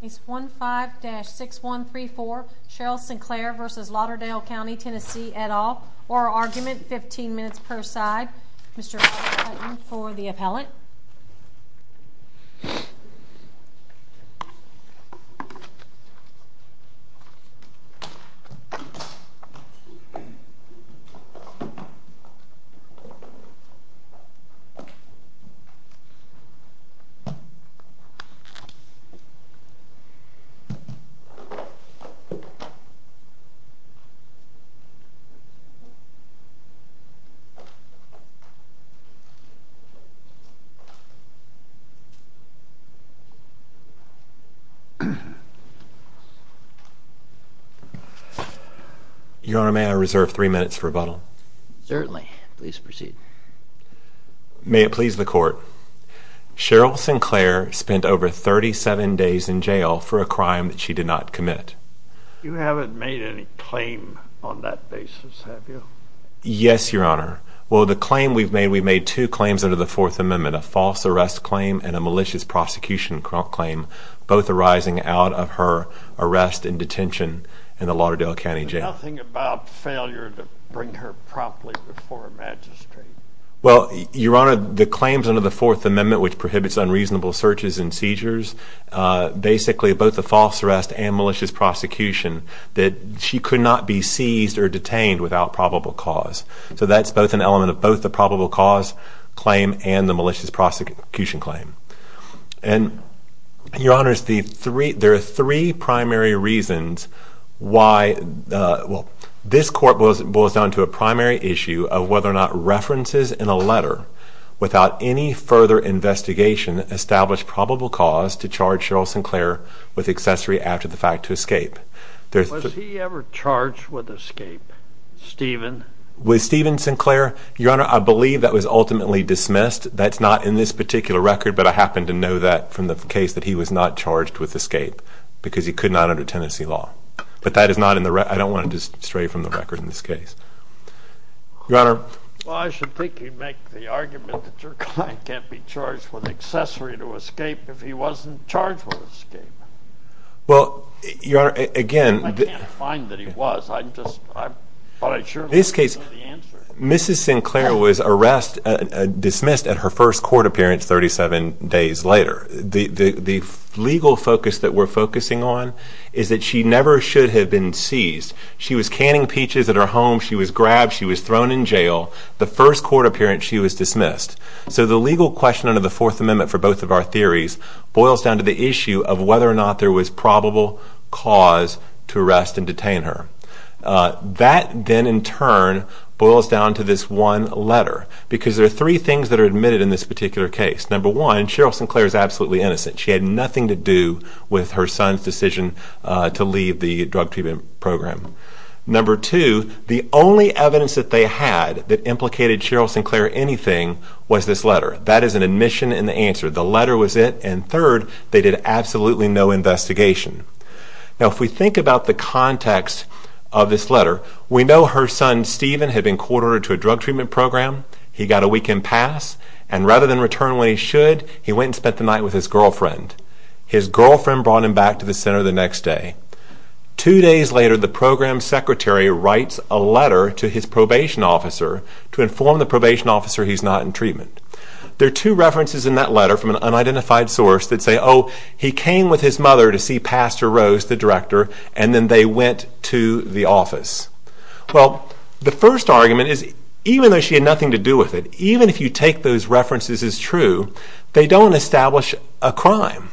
Case 15-6134 Cheryl Sinclair v. Lauderdale County, TN et al. Oral Argument, 15 minutes per side. Mr. Riley-Hutton for the appellate. Your Honor, may I reserve three minutes for rebuttal? Certainly. Please proceed. May it please the Court. Cheryl Sinclair spent over 37 years in prison. She spent 10 days in jail for a crime that she did not commit. You haven't made any claim on that basis, have you? Yes, Your Honor. Well, the claim we've made, we've made two claims under the Fourth Amendment, a false arrest claim and a malicious prosecution claim, both arising out of her arrest and detention in the Lauderdale County jail. There's nothing about failure to bring her properly before Her Majesty? Well, Your Honor, the claims under the Fourth Amendment, which prohibits unreasonable searches and seizures, basically both the false arrest and malicious prosecution, that she could not be seized or detained without probable cause. So that's both an element of both the probable cause claim and the malicious prosecution claim. And, Your Honor, there are three primary reasons why, well, this Court boils down to a primary issue of whether or not references in a letter without any further investigation establish probable cause to charge Cheryl Sinclair with accessory after the fact to escape. Was he ever charged with escape, Stephen? With Stephen Sinclair, Your Honor, I believe that was ultimately dismissed. That's not in this particular record, but I happen to know that from the case that he was not charged with escape because he could not under tenancy law. But that is not in the record. I don't want to stray from the record in this case. Your Honor. Well, I should think you'd make the argument that your client can't be charged with accessory to escape if he wasn't charged with escape. Well, Your Honor, again. I can't find that he was. I'm just, I'm not sure. In this case, Mrs. Sinclair was arrested, dismissed at her first court appearance 37 days later. The legal focus that we're focusing on is that she never should have been seized. She was canning peaches at her home. She was grabbed. She was thrown in jail. The first court appearance, she was dismissed. So the legal question under the Fourth Amendment for both of our theories boils down to the issue of whether or not there was probable cause to arrest and detain her. That then in turn boils down to this one letter because there are three things that are admitted in this particular case. Number one, Cheryl Sinclair is absolutely innocent. She had nothing to do with her son's decision to leave the drug treatment program. Number two, the only evidence that they had that implicated Cheryl Sinclair anything was this letter. That is an admission and the answer. The letter was it. And third, they did absolutely no investigation. Now if we think about the context of this letter, we know her son Stephen had been court ordered to a drug treatment program. He got a weekend pass. And rather than return when he should, he went and spent the night with his girlfriend. His girlfriend brought him back to the center the next day. Two days later, the program secretary writes a letter to his probation officer to inform the probation officer he's not in treatment. There are two references in that letter from an unidentified source that say, oh, he came with his mother to see Pastor Rose, the director, and then they went to the office. Well, the first argument is even though she had nothing to do with it, even if you take those references as true, they don't establish a crime.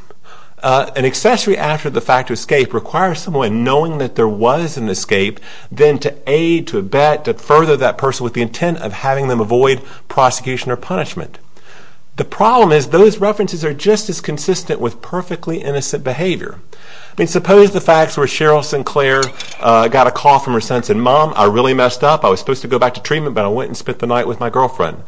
An accessory after the fact to escape requires someone knowing that there was an escape then to aid, to abet, to further that person with the intent of having them avoid prosecution or punishment. The problem is those references are just as consistent with perfectly innocent behavior. I mean, suppose the facts were Cheryl Sinclair got a call from her son saying, Mom, I really messed up. I was supposed to go back to treatment, but I went and spent the night with my girlfriend.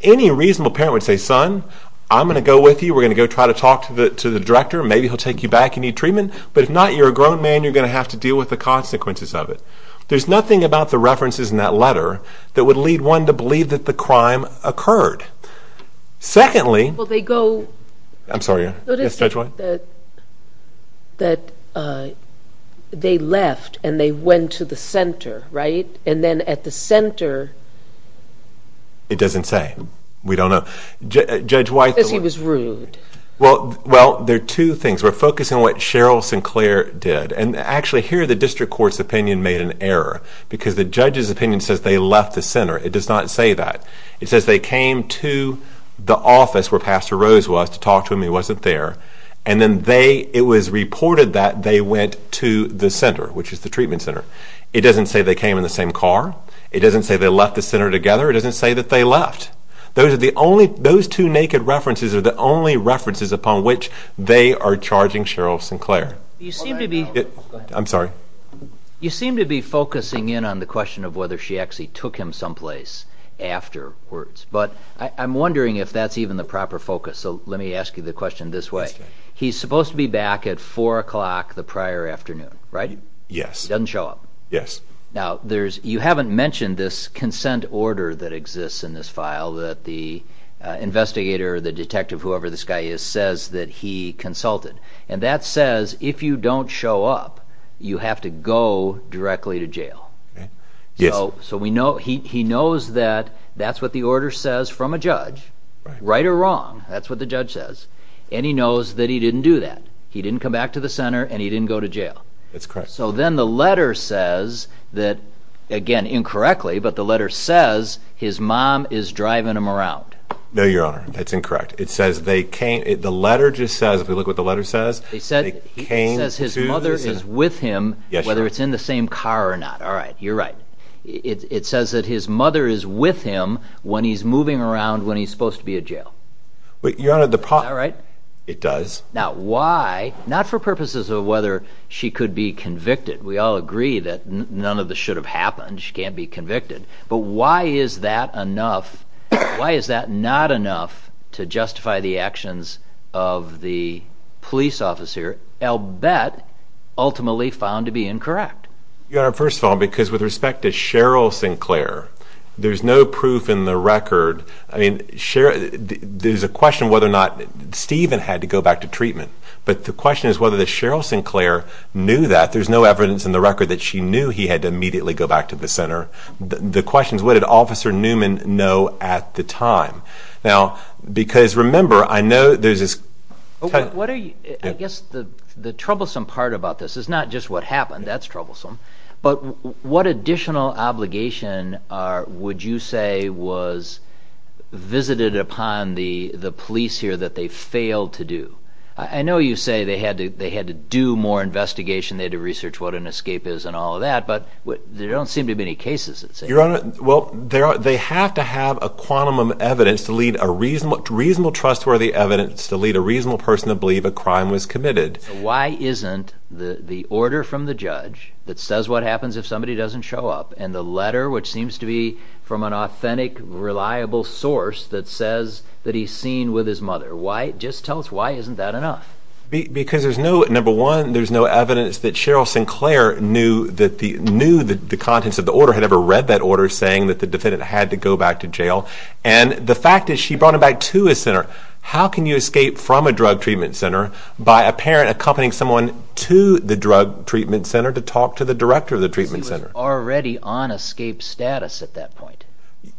Any reasonable parent would say, Son, I'm going to go with you. We're going to go try to talk to the director. Maybe he'll take you back. You need treatment. But if not, you're a grown man. You're going to have to deal with the consequences of it. There's nothing about the references in that letter that would lead one to believe that the crime occurred. Secondly... Well, they go... I'm sorry. Yes, Judge White. That they left and they went to the center, right? And then at the center... It doesn't say. We don't know. Judge White... Because he was rude. Well, there are two things. We're focusing on what Cheryl Sinclair did. And actually, here the district court's opinion made an error because the judge's opinion says they left the center. It does not say that. It says they came to the office where Pastor Rose was to talk to him. He wasn't there. And then it was reported that they went to the center, which is the treatment center. It doesn't say they came in the same car. It doesn't say they left the center together. It doesn't say that they left. Those two naked references are the only references upon which they are charging Cheryl Sinclair. You seem to be... I'm sorry. You seem to be focusing in on the question of whether she actually took him someplace afterwards. But I'm wondering if that's even the proper focus. So let me ask you the question this way. He's supposed to be back at 4 o'clock the prior afternoon, right? Yes. He doesn't show up. Yes. Now, you haven't mentioned this consent order that exists in this file that the investigator, the detective, whoever this guy is, says that he consulted. And that says if you don't show up, you have to go directly to jail. Yes. So he knows that that's what the order says from a judge, right or wrong, that's what the judge says. And he knows that he didn't do that. He didn't come back to the center and he didn't go to jail. That's correct. So then the letter says that, again, incorrectly, but the letter says his mom is driving him around. No, Your Honor, that's incorrect. It says they came... the letter just says, if we look at what the letter says... It says his mother is with him whether it's in the same car or not. All right, you're right. It says that his mother is with him when he's moving around when he's supposed to be at jail. Your Honor, the... Is that right? It does. Now, why... not for purposes of whether she could be convicted. We all agree that none of this should have happened. She can't be convicted. But why is that enough... why is that not enough to justify the actions of the police officer, Albette, ultimately found to be incorrect? Your Honor, first of all, because with respect to Cheryl Sinclair, there's no proof in the record... I mean, Cheryl... there's a question whether or not Stephen had to go back to treatment. But the question is whether Cheryl Sinclair knew that. There's no evidence in the record that she knew he had to immediately go back to the center. The question is, what did Officer Newman know at the time? Now, because, remember, I know there's this... I guess the troublesome part about this is not just what happened. That's troublesome. But what additional obligation would you say was visited upon the police here that they failed to do? I know you say they had to do more investigation, they had to research what an escape is and all of that, but there don't seem to be any cases that say that. Your Honor, well, they have to have a quantum of evidence to lead a reasonable... reasonable trustworthy evidence to lead a reasonable person to believe a crime was committed. Why isn't the order from the judge that says what happens if somebody doesn't show up and the letter, which seems to be from an authentic, reliable source that says that he's seen with his mother, why... just tell us why isn't that enough? Because there's no... number one, there's no evidence that Cheryl Sinclair knew that the... knew that the contents of the order, had ever read that order saying that the defendant had to go back to jail. And the fact is she brought him back to his center. How can you escape from a drug treatment center by a parent accompanying someone to the drug treatment center to talk to the director of the treatment center? You're already on escape status at that point.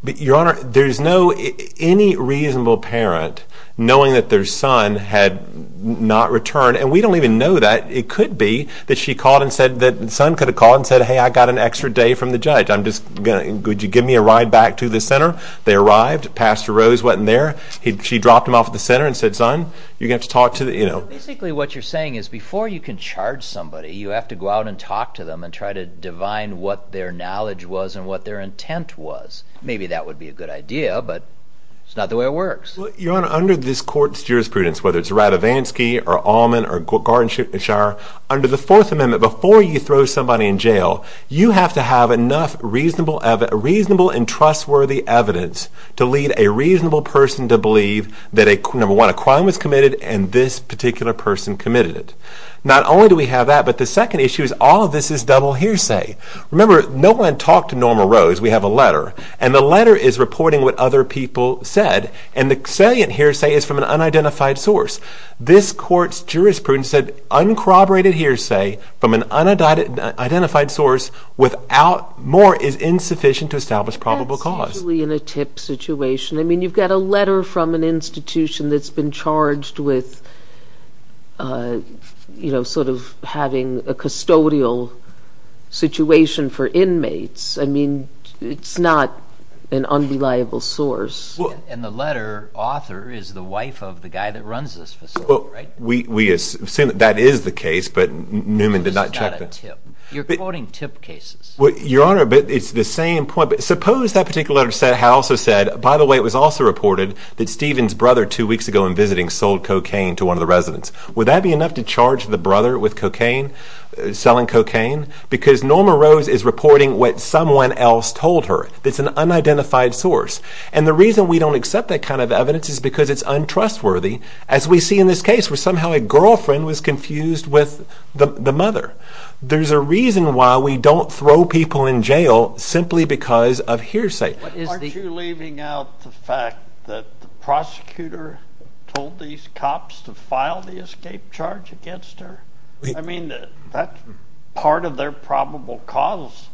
Your Honor, there's no... any reasonable parent knowing that their son had not returned, and we don't even know that, it could be that she called and said that the son could have called and said, hey, I got an extra day from the judge. I'm just... could you give me a ride back to the center? They arrived, Pastor Rose wasn't there, she dropped him off at the center and said, son, you're going to have to talk to the... you know. Basically what you're saying is before you can charge somebody, you have to go out and talk to them and try to divine what their knowledge was and what their intent was. Maybe that would be a good idea, but it's not the way it works. Your Honor, under this court's jurisprudence, whether it's Ratavansky or Allman or Gartenshaw, under the Fourth Amendment, before you throw somebody in jail, you have to have enough reasonable and trustworthy evidence to lead a reasonable person to believe that a... that a person committed it. Not only do we have that, but the second issue is all of this is double hearsay. Remember, no one talked to Norma Rose. We have a letter, and the letter is reporting what other people said, and the salient hearsay is from an unidentified source. This court's jurisprudence said uncorroborated hearsay from an unidentified source without more is insufficient to establish probable cause. Especially in a tip situation. I mean, you've got a letter from an institution that's been charged with, you know, sort of having a custodial situation for inmates. I mean, it's not an unreliable source. And the letter author is the wife of the guy that runs this facility, right? Well, we assume that that is the case, but Newman did not check that. This is not a tip. You're quoting tip cases. Well, Your Honor, but it's the same point. But suppose that particular letter also said, by the way, it was also reported that Stephen's brother two weeks ago in visiting sold cocaine to one of the residents. Would that be enough to charge the brother with cocaine, selling cocaine? Because Norma Rose is reporting what someone else told her. It's an unidentified source. And the reason we don't accept that kind of evidence is because it's untrustworthy, as we see in this case where somehow a girlfriend was confused with the mother. There's a reason why we don't throw people in jail simply because of hearsay. Aren't you leaving out the fact that the prosecutor told these cops to file the escape charge against her? I mean, that's part of their probable cause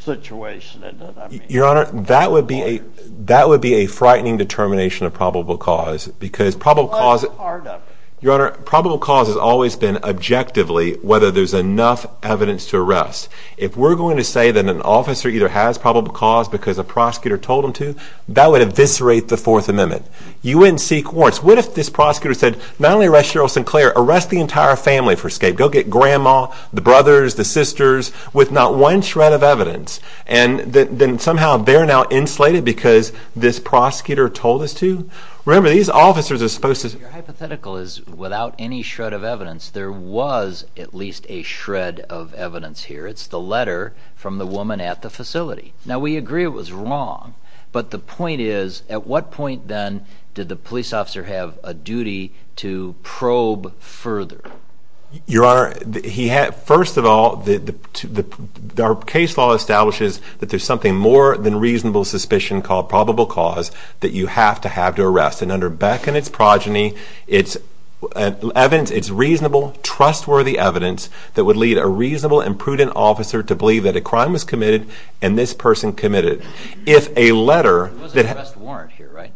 situation, isn't it? Your Honor, that would be a frightening determination of probable cause. What part of? Your Honor, probable cause has always been objectively whether there's enough evidence to arrest. If we're going to say that an officer either has probable cause because a prosecutor told him to, that would eviscerate the Fourth Amendment. You wouldn't seek warrants. What if this prosecutor said, not only arrest Cheryl Sinclair, arrest the entire family for escape. Go get Grandma, the brothers, the sisters, with not one shred of evidence. And then somehow they're now insulated because this prosecutor told us to? Remember, these officers are supposed to... Your hypothetical is, without any shred of evidence, there was at least a shred of evidence here. It's the letter from the woman at the facility. Now, we agree it was wrong, but the point is, at what point then did the police officer have a duty to probe further? Your Honor, first of all, our case law establishes that there's something more than reasonable suspicion called probable cause that you have to have to arrest. And under Beck and its progeny, it's reasonable, trustworthy evidence that would lead a reasonable and prudent officer to believe that a crime was committed and this person committed. If a letter... There was an arrest warrant here, right?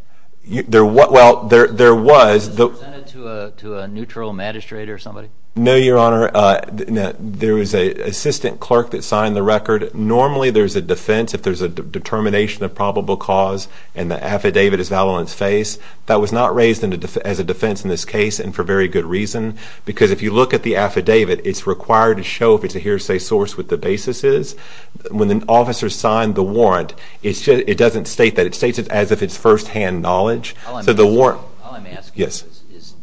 Well, there was. Was this presented to a neutral magistrate or somebody? No, Your Honor. There was an assistant clerk that signed the record. Normally, there's a defense if there's a determination of probable cause and the affidavit is valid on its face. That was not raised as a defense in this case and for very good reason because if you look at the affidavit, it's required to show if it's a hearsay source what the basis is. When an officer signed the warrant, it doesn't state that. It states it as if it's firsthand knowledge. All I'm asking is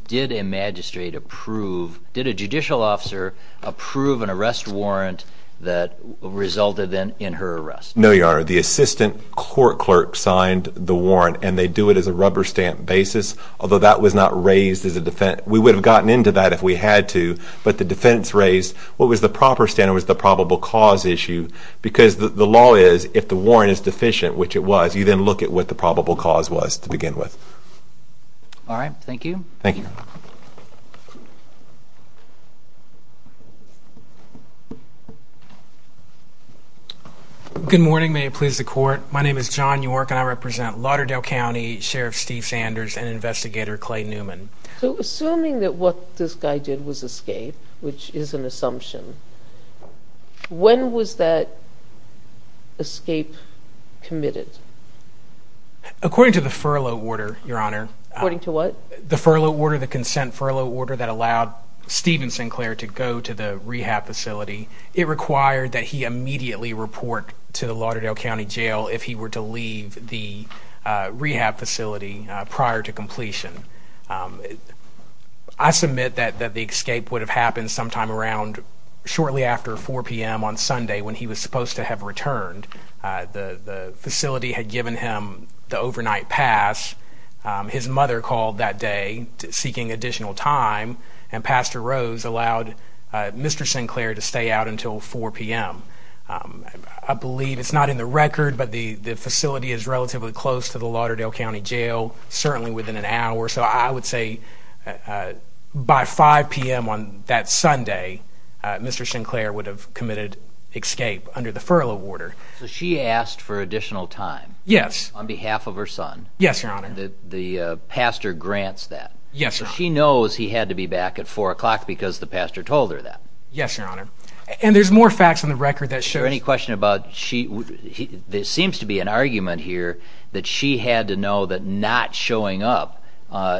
did a magistrate approve, did a judicial officer approve an arrest warrant that resulted in her arrest? No, Your Honor. The assistant court clerk signed the warrant and they do it as a rubber stamp basis, although that was not raised as a defense. We would have gotten into that if we had to, but the defense raised what was the proper standard was the probable cause issue because the law is if the warrant is deficient, which it was, you then look at what the probable cause was to begin with. All right. Thank you. Thank you. Good morning. May it please the Court. My name is John York and I represent Lauderdale County Sheriff Steve Sanders and Investigator Clay Newman. So assuming that what this guy did was escape, which is an assumption, when was that escape committed? According to the furlough order, Your Honor. According to what? The furlough order, the consent furlough order that allowed Stephen Sinclair to go to the rehab facility. It required that he immediately report to the Lauderdale County Jail if he were to leave the rehab facility prior to completion. I submit that the escape would have happened sometime around shortly after 4 p.m. on Sunday when he was supposed to have returned. The facility had given him the overnight pass. His mother called that day seeking additional time, and Pastor Rose allowed Mr. Sinclair to stay out until 4 p.m. I believe it's not in the record, but the facility is relatively close to the Lauderdale County Jail, certainly within an hour. So I would say by 5 p.m. on that Sunday, Mr. Sinclair would have committed escape under the furlough order. So she asked for additional time? Yes. On behalf of her son? Yes, Your Honor. The pastor grants that? Yes, Your Honor. So she knows he had to be back at 4 p.m. because the pastor told her that? Yes, Your Honor. And there's more facts in the record that show... Is there any question about... there seems to be an argument here that she had to know that not showing up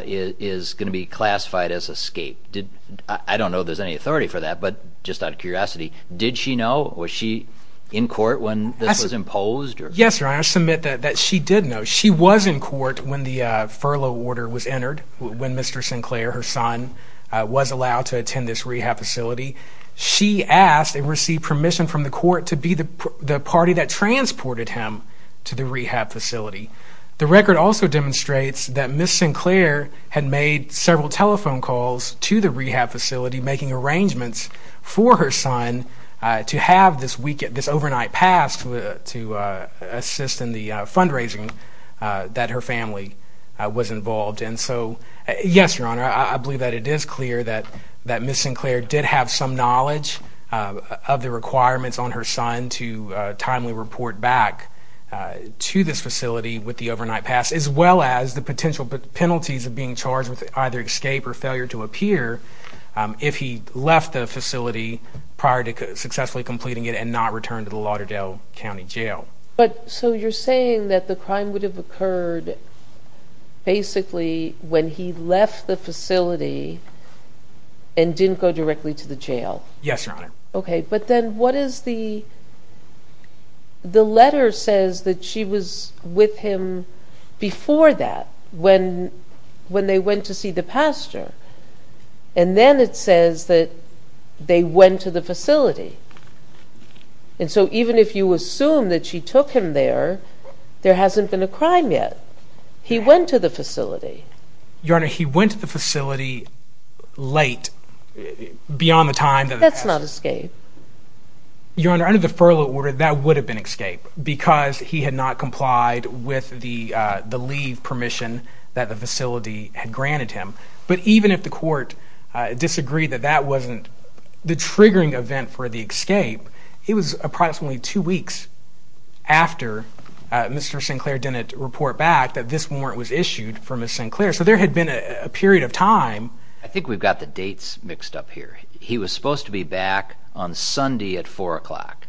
is going to be classified as escape. I don't know if there's any authority for that, but just out of curiosity, did she know? Was she in court when this was imposed? Yes, Your Honor. I submit that she did know. She was in court when the furlough order was entered, when Mr. Sinclair, her son, was allowed to attend this rehab facility. She asked and received permission from the court to be the party that transported him to the rehab facility. The record also demonstrates that Ms. Sinclair had made several telephone calls to the rehab facility, making arrangements for her son to have this overnight pass to assist in the fundraising that her family was involved in. So, yes, Your Honor, I believe that it is clear that Ms. Sinclair did have some knowledge of the requirements on her son to timely report back to this facility with the overnight pass, as well as the potential penalties of being charged with either escape or failure to appear if he left the facility prior to successfully completing it and not return to the Lauderdale County Jail. So you're saying that the crime would have occurred basically when he left the facility and didn't go directly to the jail? Yes, Your Honor. Okay, but then what is the...the letter says that she was with him before that, when they went to see the pastor, and then it says that they went to the facility. And so even if you assume that she took him there, there hasn't been a crime yet. He went to the facility. Your Honor, he went to the facility late, beyond the time... That's not escape. Your Honor, under the furlough order, that would have been escape because he had not complied with the leave permission that the facility had granted him. But even if the court disagreed that that wasn't the triggering event for the escape, it was approximately two weeks after Mr. Sinclair didn't report back that this warrant was issued for Ms. Sinclair. So there had been a period of time... I think we've got the dates mixed up here. He was supposed to be back on Sunday at 4 o'clock.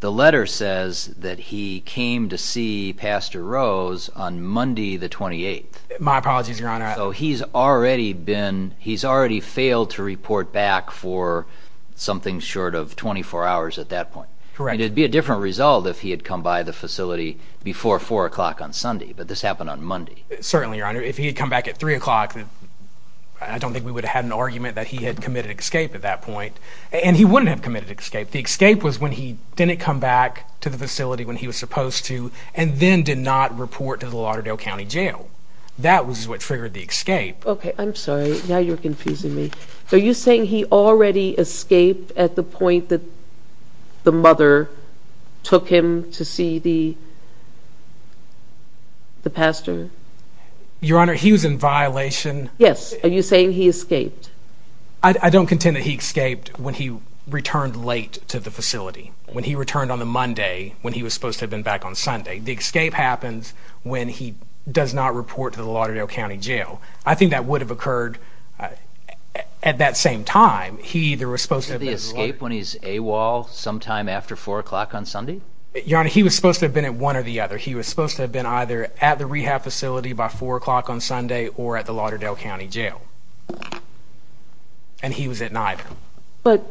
The letter says that he came to see Pastor Rose on Monday the 28th. My apologies, Your Honor. So he's already been...he's already failed to report back for something short of 24 hours at that point. Correct. It'd be a different result if he had come by the facility before 4 o'clock on Sunday, but this happened on Monday. Certainly, Your Honor. If he had come back at 3 o'clock, I don't think we would have had an argument that he had committed escape at that point. And he wouldn't have committed escape. The escape was when he didn't come back to the facility when he was supposed to and then did not report to the Lauderdale County Jail. That was what triggered the escape. Okay, I'm sorry. Now you're confusing me. Are you saying he already escaped at the point that the mother took him to see the pastor? Your Honor, he was in violation... Yes, are you saying he escaped? I don't contend that he escaped when he returned late to the facility, when he returned on the Monday when he was supposed to have been back on Sunday. The escape happens when he does not report to the Lauderdale County Jail. I think that would have occurred at that same time. He either was supposed to have been... Did he escape when he's AWOL sometime after 4 o'clock on Sunday? Your Honor, he was supposed to have been at one or the other. He was supposed to have been either at the rehab facility by 4 o'clock on Sunday or at the Lauderdale County Jail. And he was at neither. But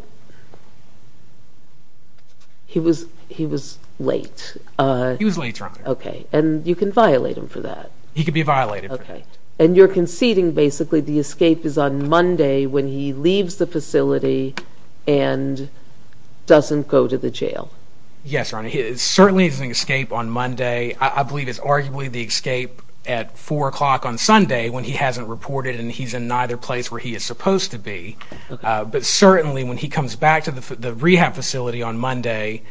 he was late. He was late, Your Honor. Okay, and you can violate him for that. He could be violated for that. Okay, and you're conceding basically the escape is on Monday when he leaves the facility and doesn't go to the jail. Yes, Your Honor. It certainly isn't an escape on Monday. I believe it's arguably the escape at 4 o'clock on Sunday when he hasn't reported and he's in neither place where he is supposed to be. But certainly when he comes back to the rehab facility on Monday...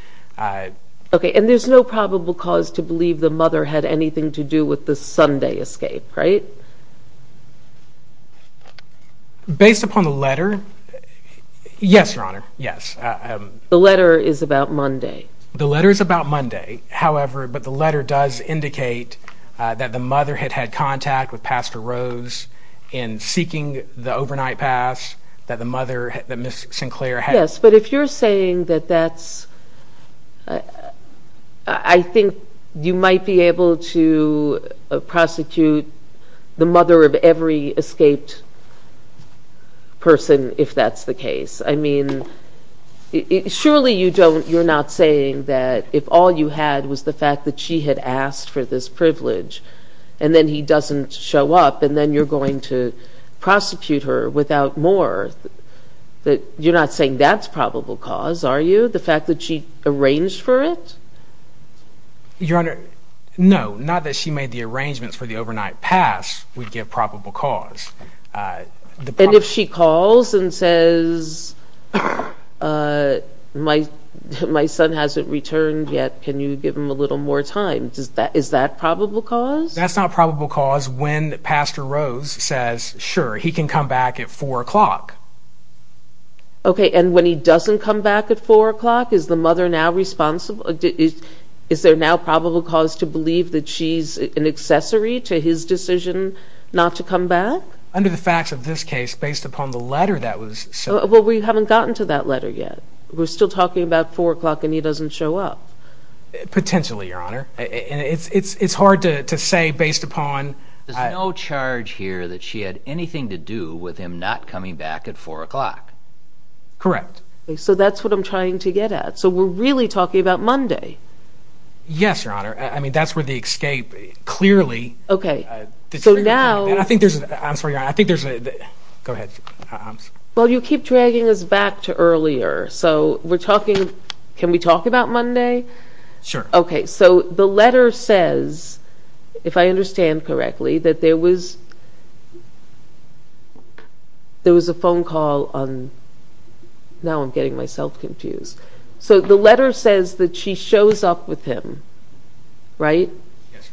Okay, and there's no probable cause to believe the mother had anything to do with the Sunday escape, right? Based upon the letter, yes, Your Honor, yes. The letter is about Monday. The letter is about Monday, however, but the letter does indicate that the mother had had contact with Pastor Rose in seeking the overnight pass that the mother, that Ms. Sinclair had. Yes, but if you're saying that that's... I think you might be able to prosecute the mother of every escaped person if that's the case. I mean, surely you're not saying that if all you had was the fact that she had asked for this privilege and then he doesn't show up and then you're going to prosecute her without more, that you're not saying that's probable cause, are you? The fact that she arranged for it? Your Honor, no, not that she made the arrangements for the overnight pass would give probable cause. And if she calls and says, my son hasn't returned yet, can you give him a little more time? Is that probable cause? That's not probable cause when Pastor Rose says, sure, he can come back at 4 o'clock. Okay, and when he doesn't come back at 4 o'clock, is the mother now responsible? Is there now probable cause to believe that she's an accessory to his decision not to come back? Under the facts of this case, based upon the letter that was sent... Well, we haven't gotten to that letter yet. We're still talking about 4 o'clock and he doesn't show up. Potentially, Your Honor. It's hard to say based upon... There's no charge here that she had anything to do with him not coming back at 4 o'clock. Correct. So that's what I'm trying to get at. So we're really talking about Monday. Yes, Your Honor. I mean, that's where the escape clearly... Okay, so now... I'm sorry, Your Honor, I think there's a... go ahead. Well, you keep dragging us back to earlier, so we're talking... Can we talk about Monday? Sure. Okay, so the letter says, if I understand correctly, that there was a phone call on... Now I'm getting myself confused. So the letter says that she shows up with him, right? Yes,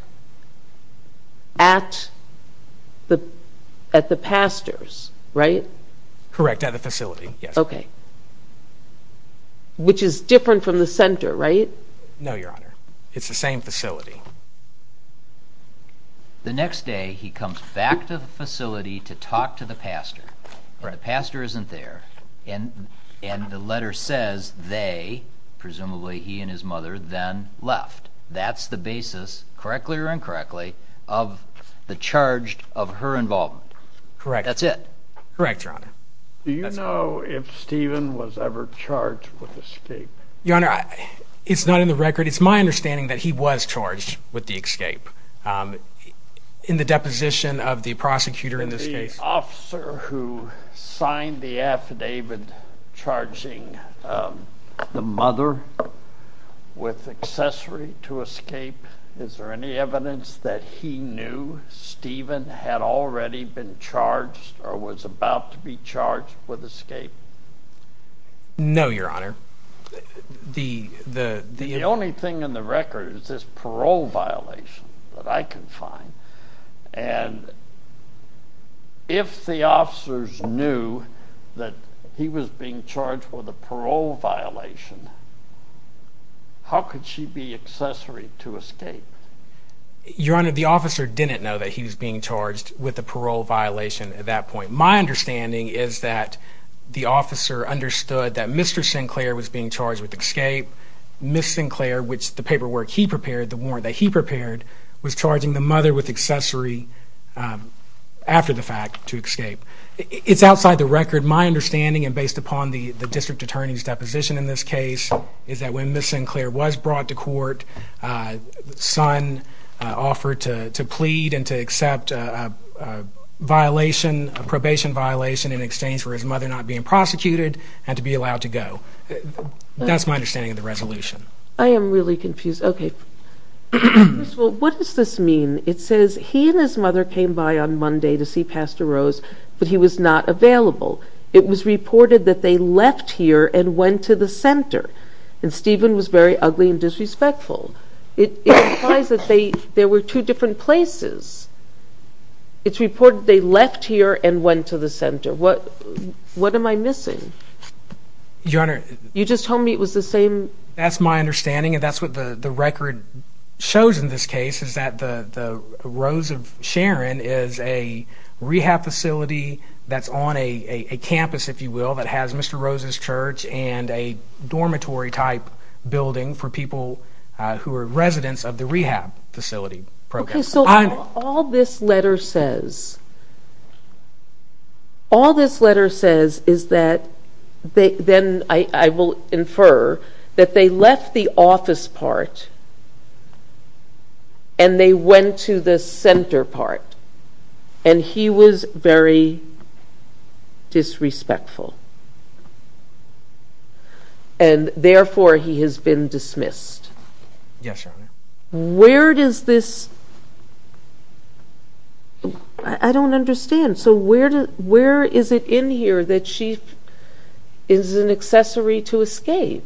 Your Honor. At the pastor's, right? Correct, at the facility, yes. Okay. Which is different from the center, right? No, Your Honor. It's the same facility. The next day, he comes back to the facility to talk to the pastor. The pastor isn't there. And the letter says they, presumably he and his mother, then left. That's the basis, correctly or incorrectly, of the charge of her involvement. Correct. That's it. Correct, Your Honor. Do you know if Stephen was ever charged with escape? Your Honor, it's not in the record. It's my understanding that he was charged with the escape. In the deposition of the prosecutor in this case... ...who signed the affidavit charging the mother with accessory to escape, is there any evidence that he knew Stephen had already been charged or was about to be charged with escape? No, Your Honor. The only thing in the record is this parole violation that I can find. And if the officers knew that he was being charged with a parole violation, how could she be accessory to escape? Your Honor, the officer didn't know that he was being charged with a parole violation at that point. My understanding is that the officer understood that Mr. Sinclair was being charged with escape. Ms. Sinclair, which the paperwork he prepared, the warrant that he prepared, was charging the mother with accessory after the fact to escape. It's outside the record. My understanding, and based upon the district attorney's deposition in this case, is that when Ms. Sinclair was brought to court, the son offered to plead and to accept a violation, a probation violation, in exchange for his mother not being prosecuted and to be allowed to go. That's my understanding of the resolution. I am really confused. Okay. First of all, what does this mean? It says he and his mother came by on Monday to see Pastor Rose, but he was not available. It was reported that they left here and went to the center. And Stephen was very ugly and disrespectful. It implies that there were two different places. It's reported they left here and went to the center. What am I missing? Your Honor, You just told me it was the same. That's my understanding, and that's what the record shows in this case, is that the Rose of Sharon is a rehab facility that's on a campus, if you will, that has Mr. Rose's church and a dormitory-type building for people who are residents of the rehab facility program. Okay. So all this letter says is that, then I will infer, that they left the office part and they went to the center part. And he was very disrespectful. And therefore, he has been dismissed. Yes, Your Honor. Where does this... I don't understand. So where is it in here that she is an accessory to escape?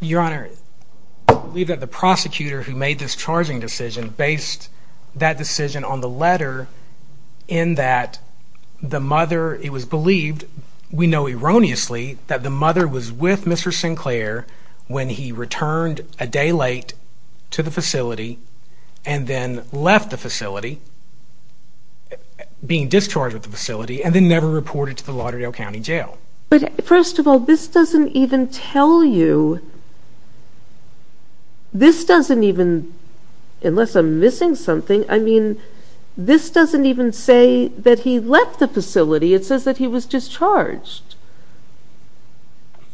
Your Honor, I believe that the prosecutor who made this charging decision based that decision on the letter in that the mother, it was believed, we know erroneously, that the mother was with Mr. Sinclair when he returned a day late to the facility and then left the facility, being discharged at the facility, and then never reported to the Lauderdale County Jail. But first of all, this doesn't even tell you, this doesn't even, unless I'm missing something, I mean, this doesn't even say that he left the facility. It says that he was discharged.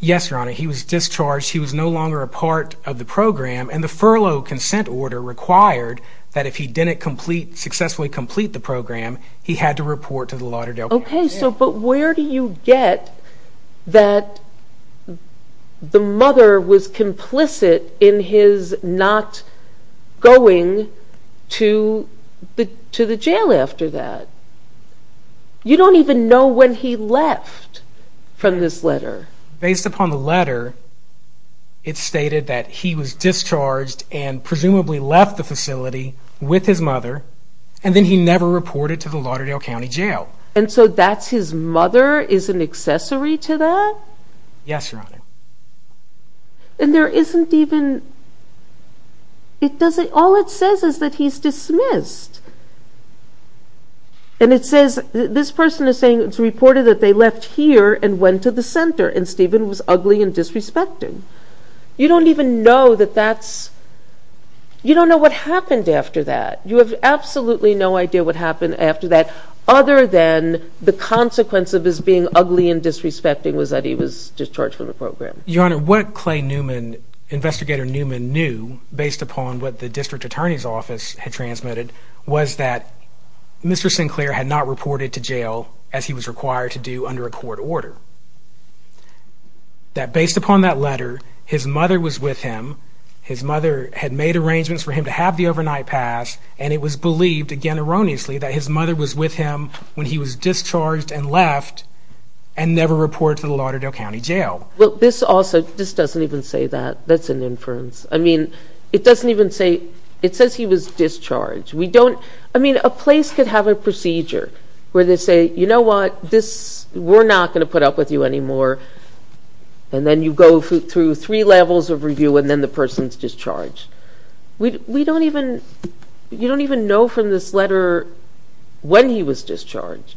Yes, Your Honor. He was discharged. He was no longer a part of the program. And the furlough consent order required that if he didn't successfully complete the program, he had to report to the Lauderdale County Jail. Okay. But where do you get that the mother was complicit in his not going to the jail after that? You don't even know when he left from this letter. Based upon the letter, it stated that he was discharged and presumably left the facility with his mother, and then he never reported to the Lauderdale County Jail. And so that's his mother is an accessory to that? Yes, Your Honor. And there isn't even, it doesn't, all it says is that he's dismissed. And it says, this person is saying it's reported that they left here and went to the center and Stephen was ugly and disrespecting. You don't even know that that's, you don't know what happened after that. You have absolutely no idea what happened after that other than the consequence of his being ugly and disrespecting was that he was discharged from the program. Your Honor, what Clay Newman, Investigator Newman knew, based upon what the District Attorney's Office had transmitted, was that Mr. Sinclair had not reported to jail as he was required to do under a court order. That based upon that letter, his mother was with him, his mother had made arrangements for him to have the overnight pass, and it was believed, again erroneously, that his mother was with him when he was discharged and left and never reported to the Lauderdale County Jail. Well, this also, this doesn't even say that. That's an inference. I mean, it doesn't even say, it says he was discharged. We don't, I mean, a place could have a procedure where they say, you know what, this, we're not going to put up with you anymore. And then you go through three levels of review and then the person's discharged. We don't even, you don't even know from this letter when he was discharged.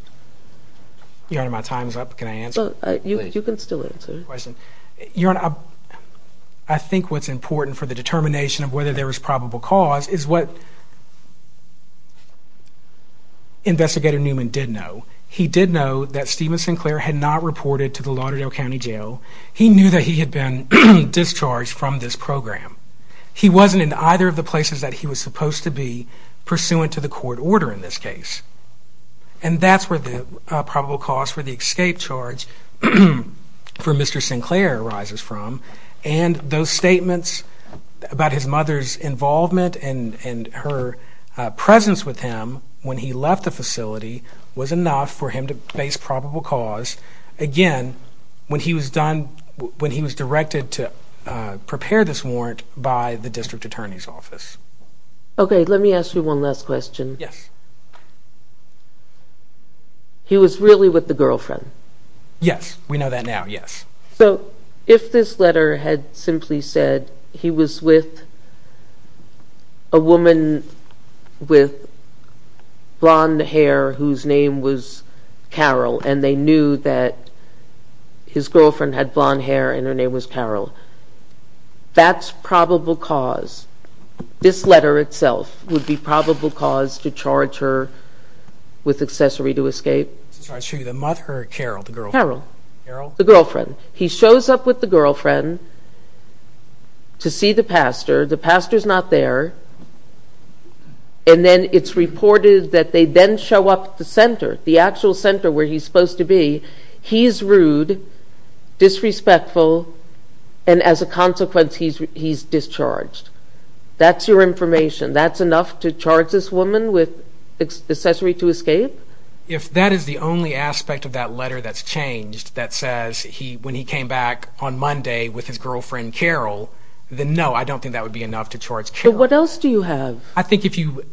Your Honor, my time's up. Can I answer? You can still answer. Your Honor, I think what's important for the determination of whether there was probable cause is what Investigator Newman did know. He did know that Stephen Sinclair had not reported to the Lauderdale County Jail. He knew that he had been discharged from this program. He wasn't in either of the places that he was supposed to be, pursuant to the court order in this case. And that's where the probable cause for the escape charge for Mr. Sinclair arises from. And those statements about his mother's involvement and her presence with him when he left the facility was enough for him to base probable cause. Again, when he was directed to prepare this warrant by the district attorney's office. Okay, let me ask you one last question. Yes. He was really with the girlfriend? Yes, we know that now, yes. So if this letter had simply said he was with a woman with blonde hair whose name was Carol, and they knew that his girlfriend had blonde hair and her name was Carol, that's probable cause. This letter itself would be probable cause to charge her with accessory to escape. So the mother, Carol, the girlfriend? Carol, the girlfriend. He shows up with the girlfriend to see the pastor. The pastor's not there. And then it's reported that they then show up at the center, the actual center where he's supposed to be. He's rude, disrespectful, and as a consequence, he's discharged. That's your information? That's enough to charge this woman with accessory to escape? If that is the only aspect of that letter that's changed that says when he came back on Monday with his girlfriend, Carol, then no, I don't think that would be enough to charge Carol. But what else do you have? I think if you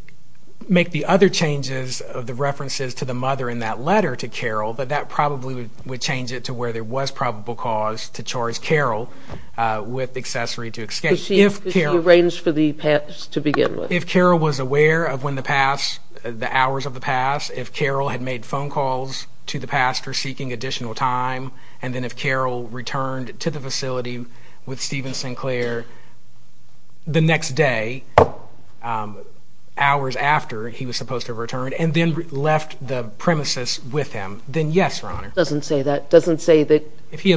make the other changes of the references to the mother in that letter to Carol, that that probably would change it to where there was probable cause to charge Carol with accessory to escape. If she arranged for the past to begin with? If Carol was aware of when the past, the hours of the past, if Carol had made phone calls to the pastor seeking additional time, and then if Carol returned to the facility with Stephen Sinclair the next day, hours after he was supposed to have returned, and then left the premises with him, then yes, Your Honor. It doesn't say that. If she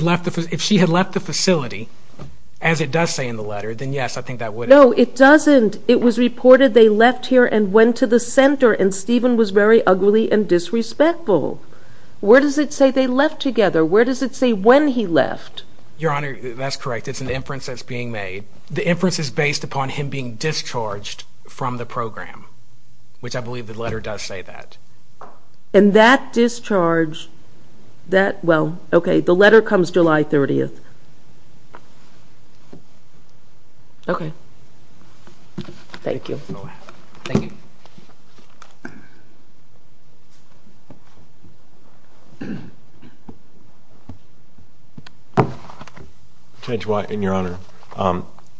had left the facility, as it does say in the letter, then yes, I think that would. No, it doesn't. It was reported they left here and went to the center, and Stephen was very ugly and disrespectful. Where does it say they left together? Where does it say when he left? Your Honor, that's correct. It's an inference that's being made. The inference is based upon him being discharged from the program, which I believe the letter does say that. And that discharge, that, well, okay, the letter comes July 30th. Okay. Thank you. Thank you. Thank you. Judge White and Your Honor,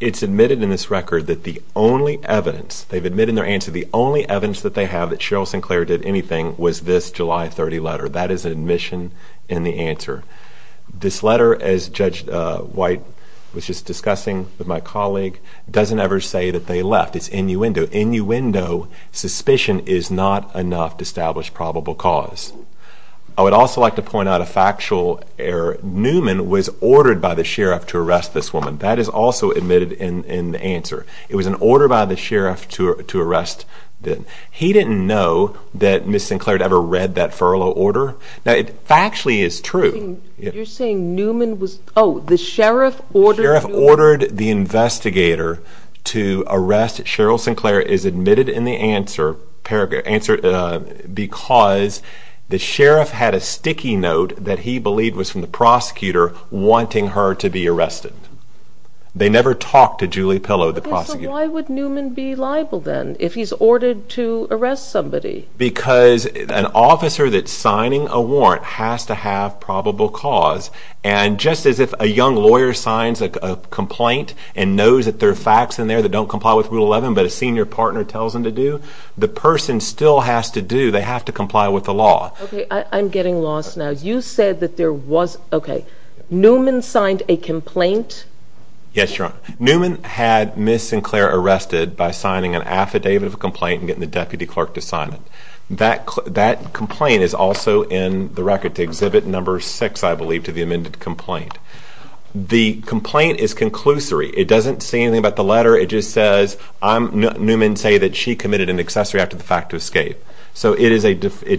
it's admitted in this record that the only evidence, they've admitted in their answer, the only evidence that they have that Cheryl Sinclair did anything was this July 30 letter. That is an admission in the answer. This letter, as Judge White was just discussing with my colleague, doesn't ever say that they left. It's innuendo. Suspicion is not enough to establish probable cause. I would also like to point out a factual error. Newman was ordered by the sheriff to arrest this woman. That is also admitted in the answer. It was an order by the sheriff to arrest them. He didn't know that Ms. Sinclair had ever read that furlough order. Now, it factually is true. You're saying Newman was, oh, the sheriff ordered Newman? Cheryl Sinclair is admitted in the answer because the sheriff had a sticky note that he believed was from the prosecutor wanting her to be arrested. They never talked to Julie Pillow, the prosecutor. Okay, so why would Newman be liable then if he's ordered to arrest somebody? Because an officer that's signing a warrant has to have probable cause. And just as if a young lawyer signs a complaint and knows that there are facts in there that don't comply with Rule 11 but a senior partner tells them to do, the person still has to do, they have to comply with the law. Okay, I'm getting lost now. You said that there was, okay, Newman signed a complaint? Yes, Your Honor. Newman had Ms. Sinclair arrested by signing an affidavit of complaint and getting the deputy clerk to sign it. That complaint is also in the record to Exhibit No. 6, I believe, to the amended complaint. The complaint is conclusory. It doesn't say anything about the letter. It just says Newman say that she committed an accessory after the fact to escape. So it's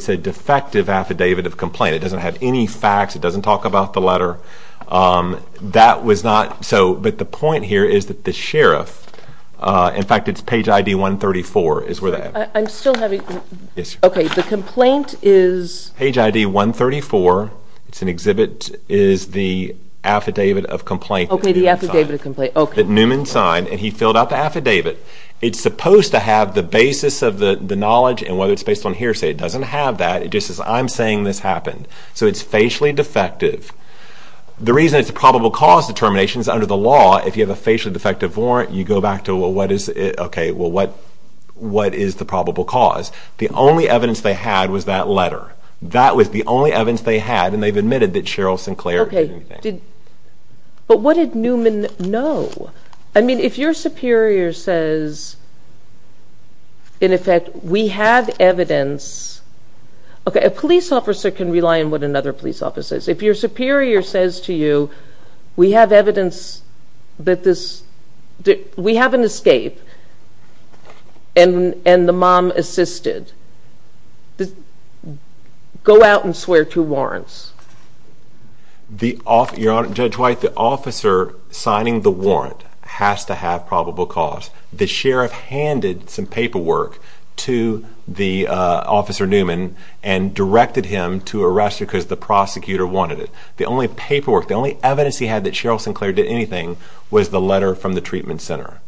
a defective affidavit of complaint. It doesn't have any facts. It doesn't talk about the letter. That was not so, but the point here is that the sheriff, in fact, it's page ID 134 is where that is. I'm still having, okay, the complaint is? Page ID 134, it's an exhibit, is the affidavit of complaint that Newman signed. Okay, the affidavit of complaint, okay. That Newman signed and he filled out the affidavit. It's supposed to have the basis of the knowledge and whether it's based on hearsay. It doesn't have that. It just says I'm saying this happened. So it's facially defective. The reason it's a probable cause determination is under the law, if you have a facially defective warrant, you go back to what is it, okay, well, what is the probable cause? The only evidence they had was that letter. That was the only evidence they had and they've admitted that Cheryl Sinclair did anything. Okay, but what did Newman know? I mean, if your superior says, in effect, we have evidence, okay, a police officer can rely on what another police officer says. If your superior says to you, we have evidence that this, we have an escape, and the mom assisted, go out and swear two warrants. Your Honor, Judge White, the officer signing the warrant has to have probable cause. The sheriff handed some paperwork to Officer Newman and directed him to arrest her because the prosecutor wanted it. The only paperwork, the only evidence he had that Cheryl Sinclair did anything was the letter from the treatment center.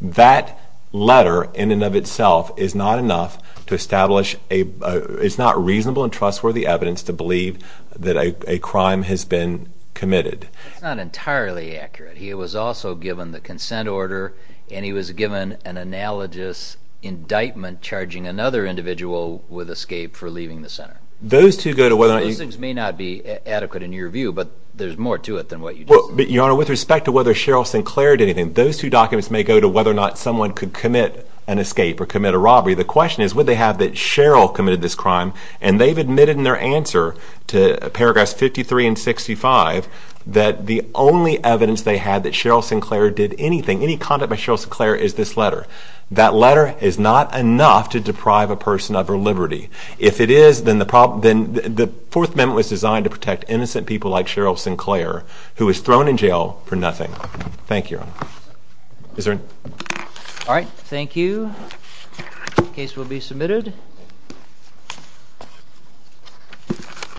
That letter in and of itself is not enough to establish a, it's not reasonable and trustworthy evidence to believe that a crime has been committed. It's not entirely accurate. He was also given the consent order and he was given an analogous indictment charging another individual with escape for leaving the center. Those things may not be adequate in your view, but there's more to it than what you just said. Your Honor, with respect to whether Cheryl Sinclair did anything, those two documents may go to whether or not someone could commit an escape or commit a robbery. The question is, would they have that Cheryl committed this crime, and they've admitted in their answer to paragraphs 53 and 65 that the only evidence they had that Cheryl Sinclair did anything, any conduct by Cheryl Sinclair is this letter. That letter is not enough to deprive a person of her liberty. If it is, then the Fourth Amendment was designed to protect innocent people like Cheryl Sinclair, who was thrown in jail for nothing. Thank you, Your Honor. All right, thank you. The case will be submitted.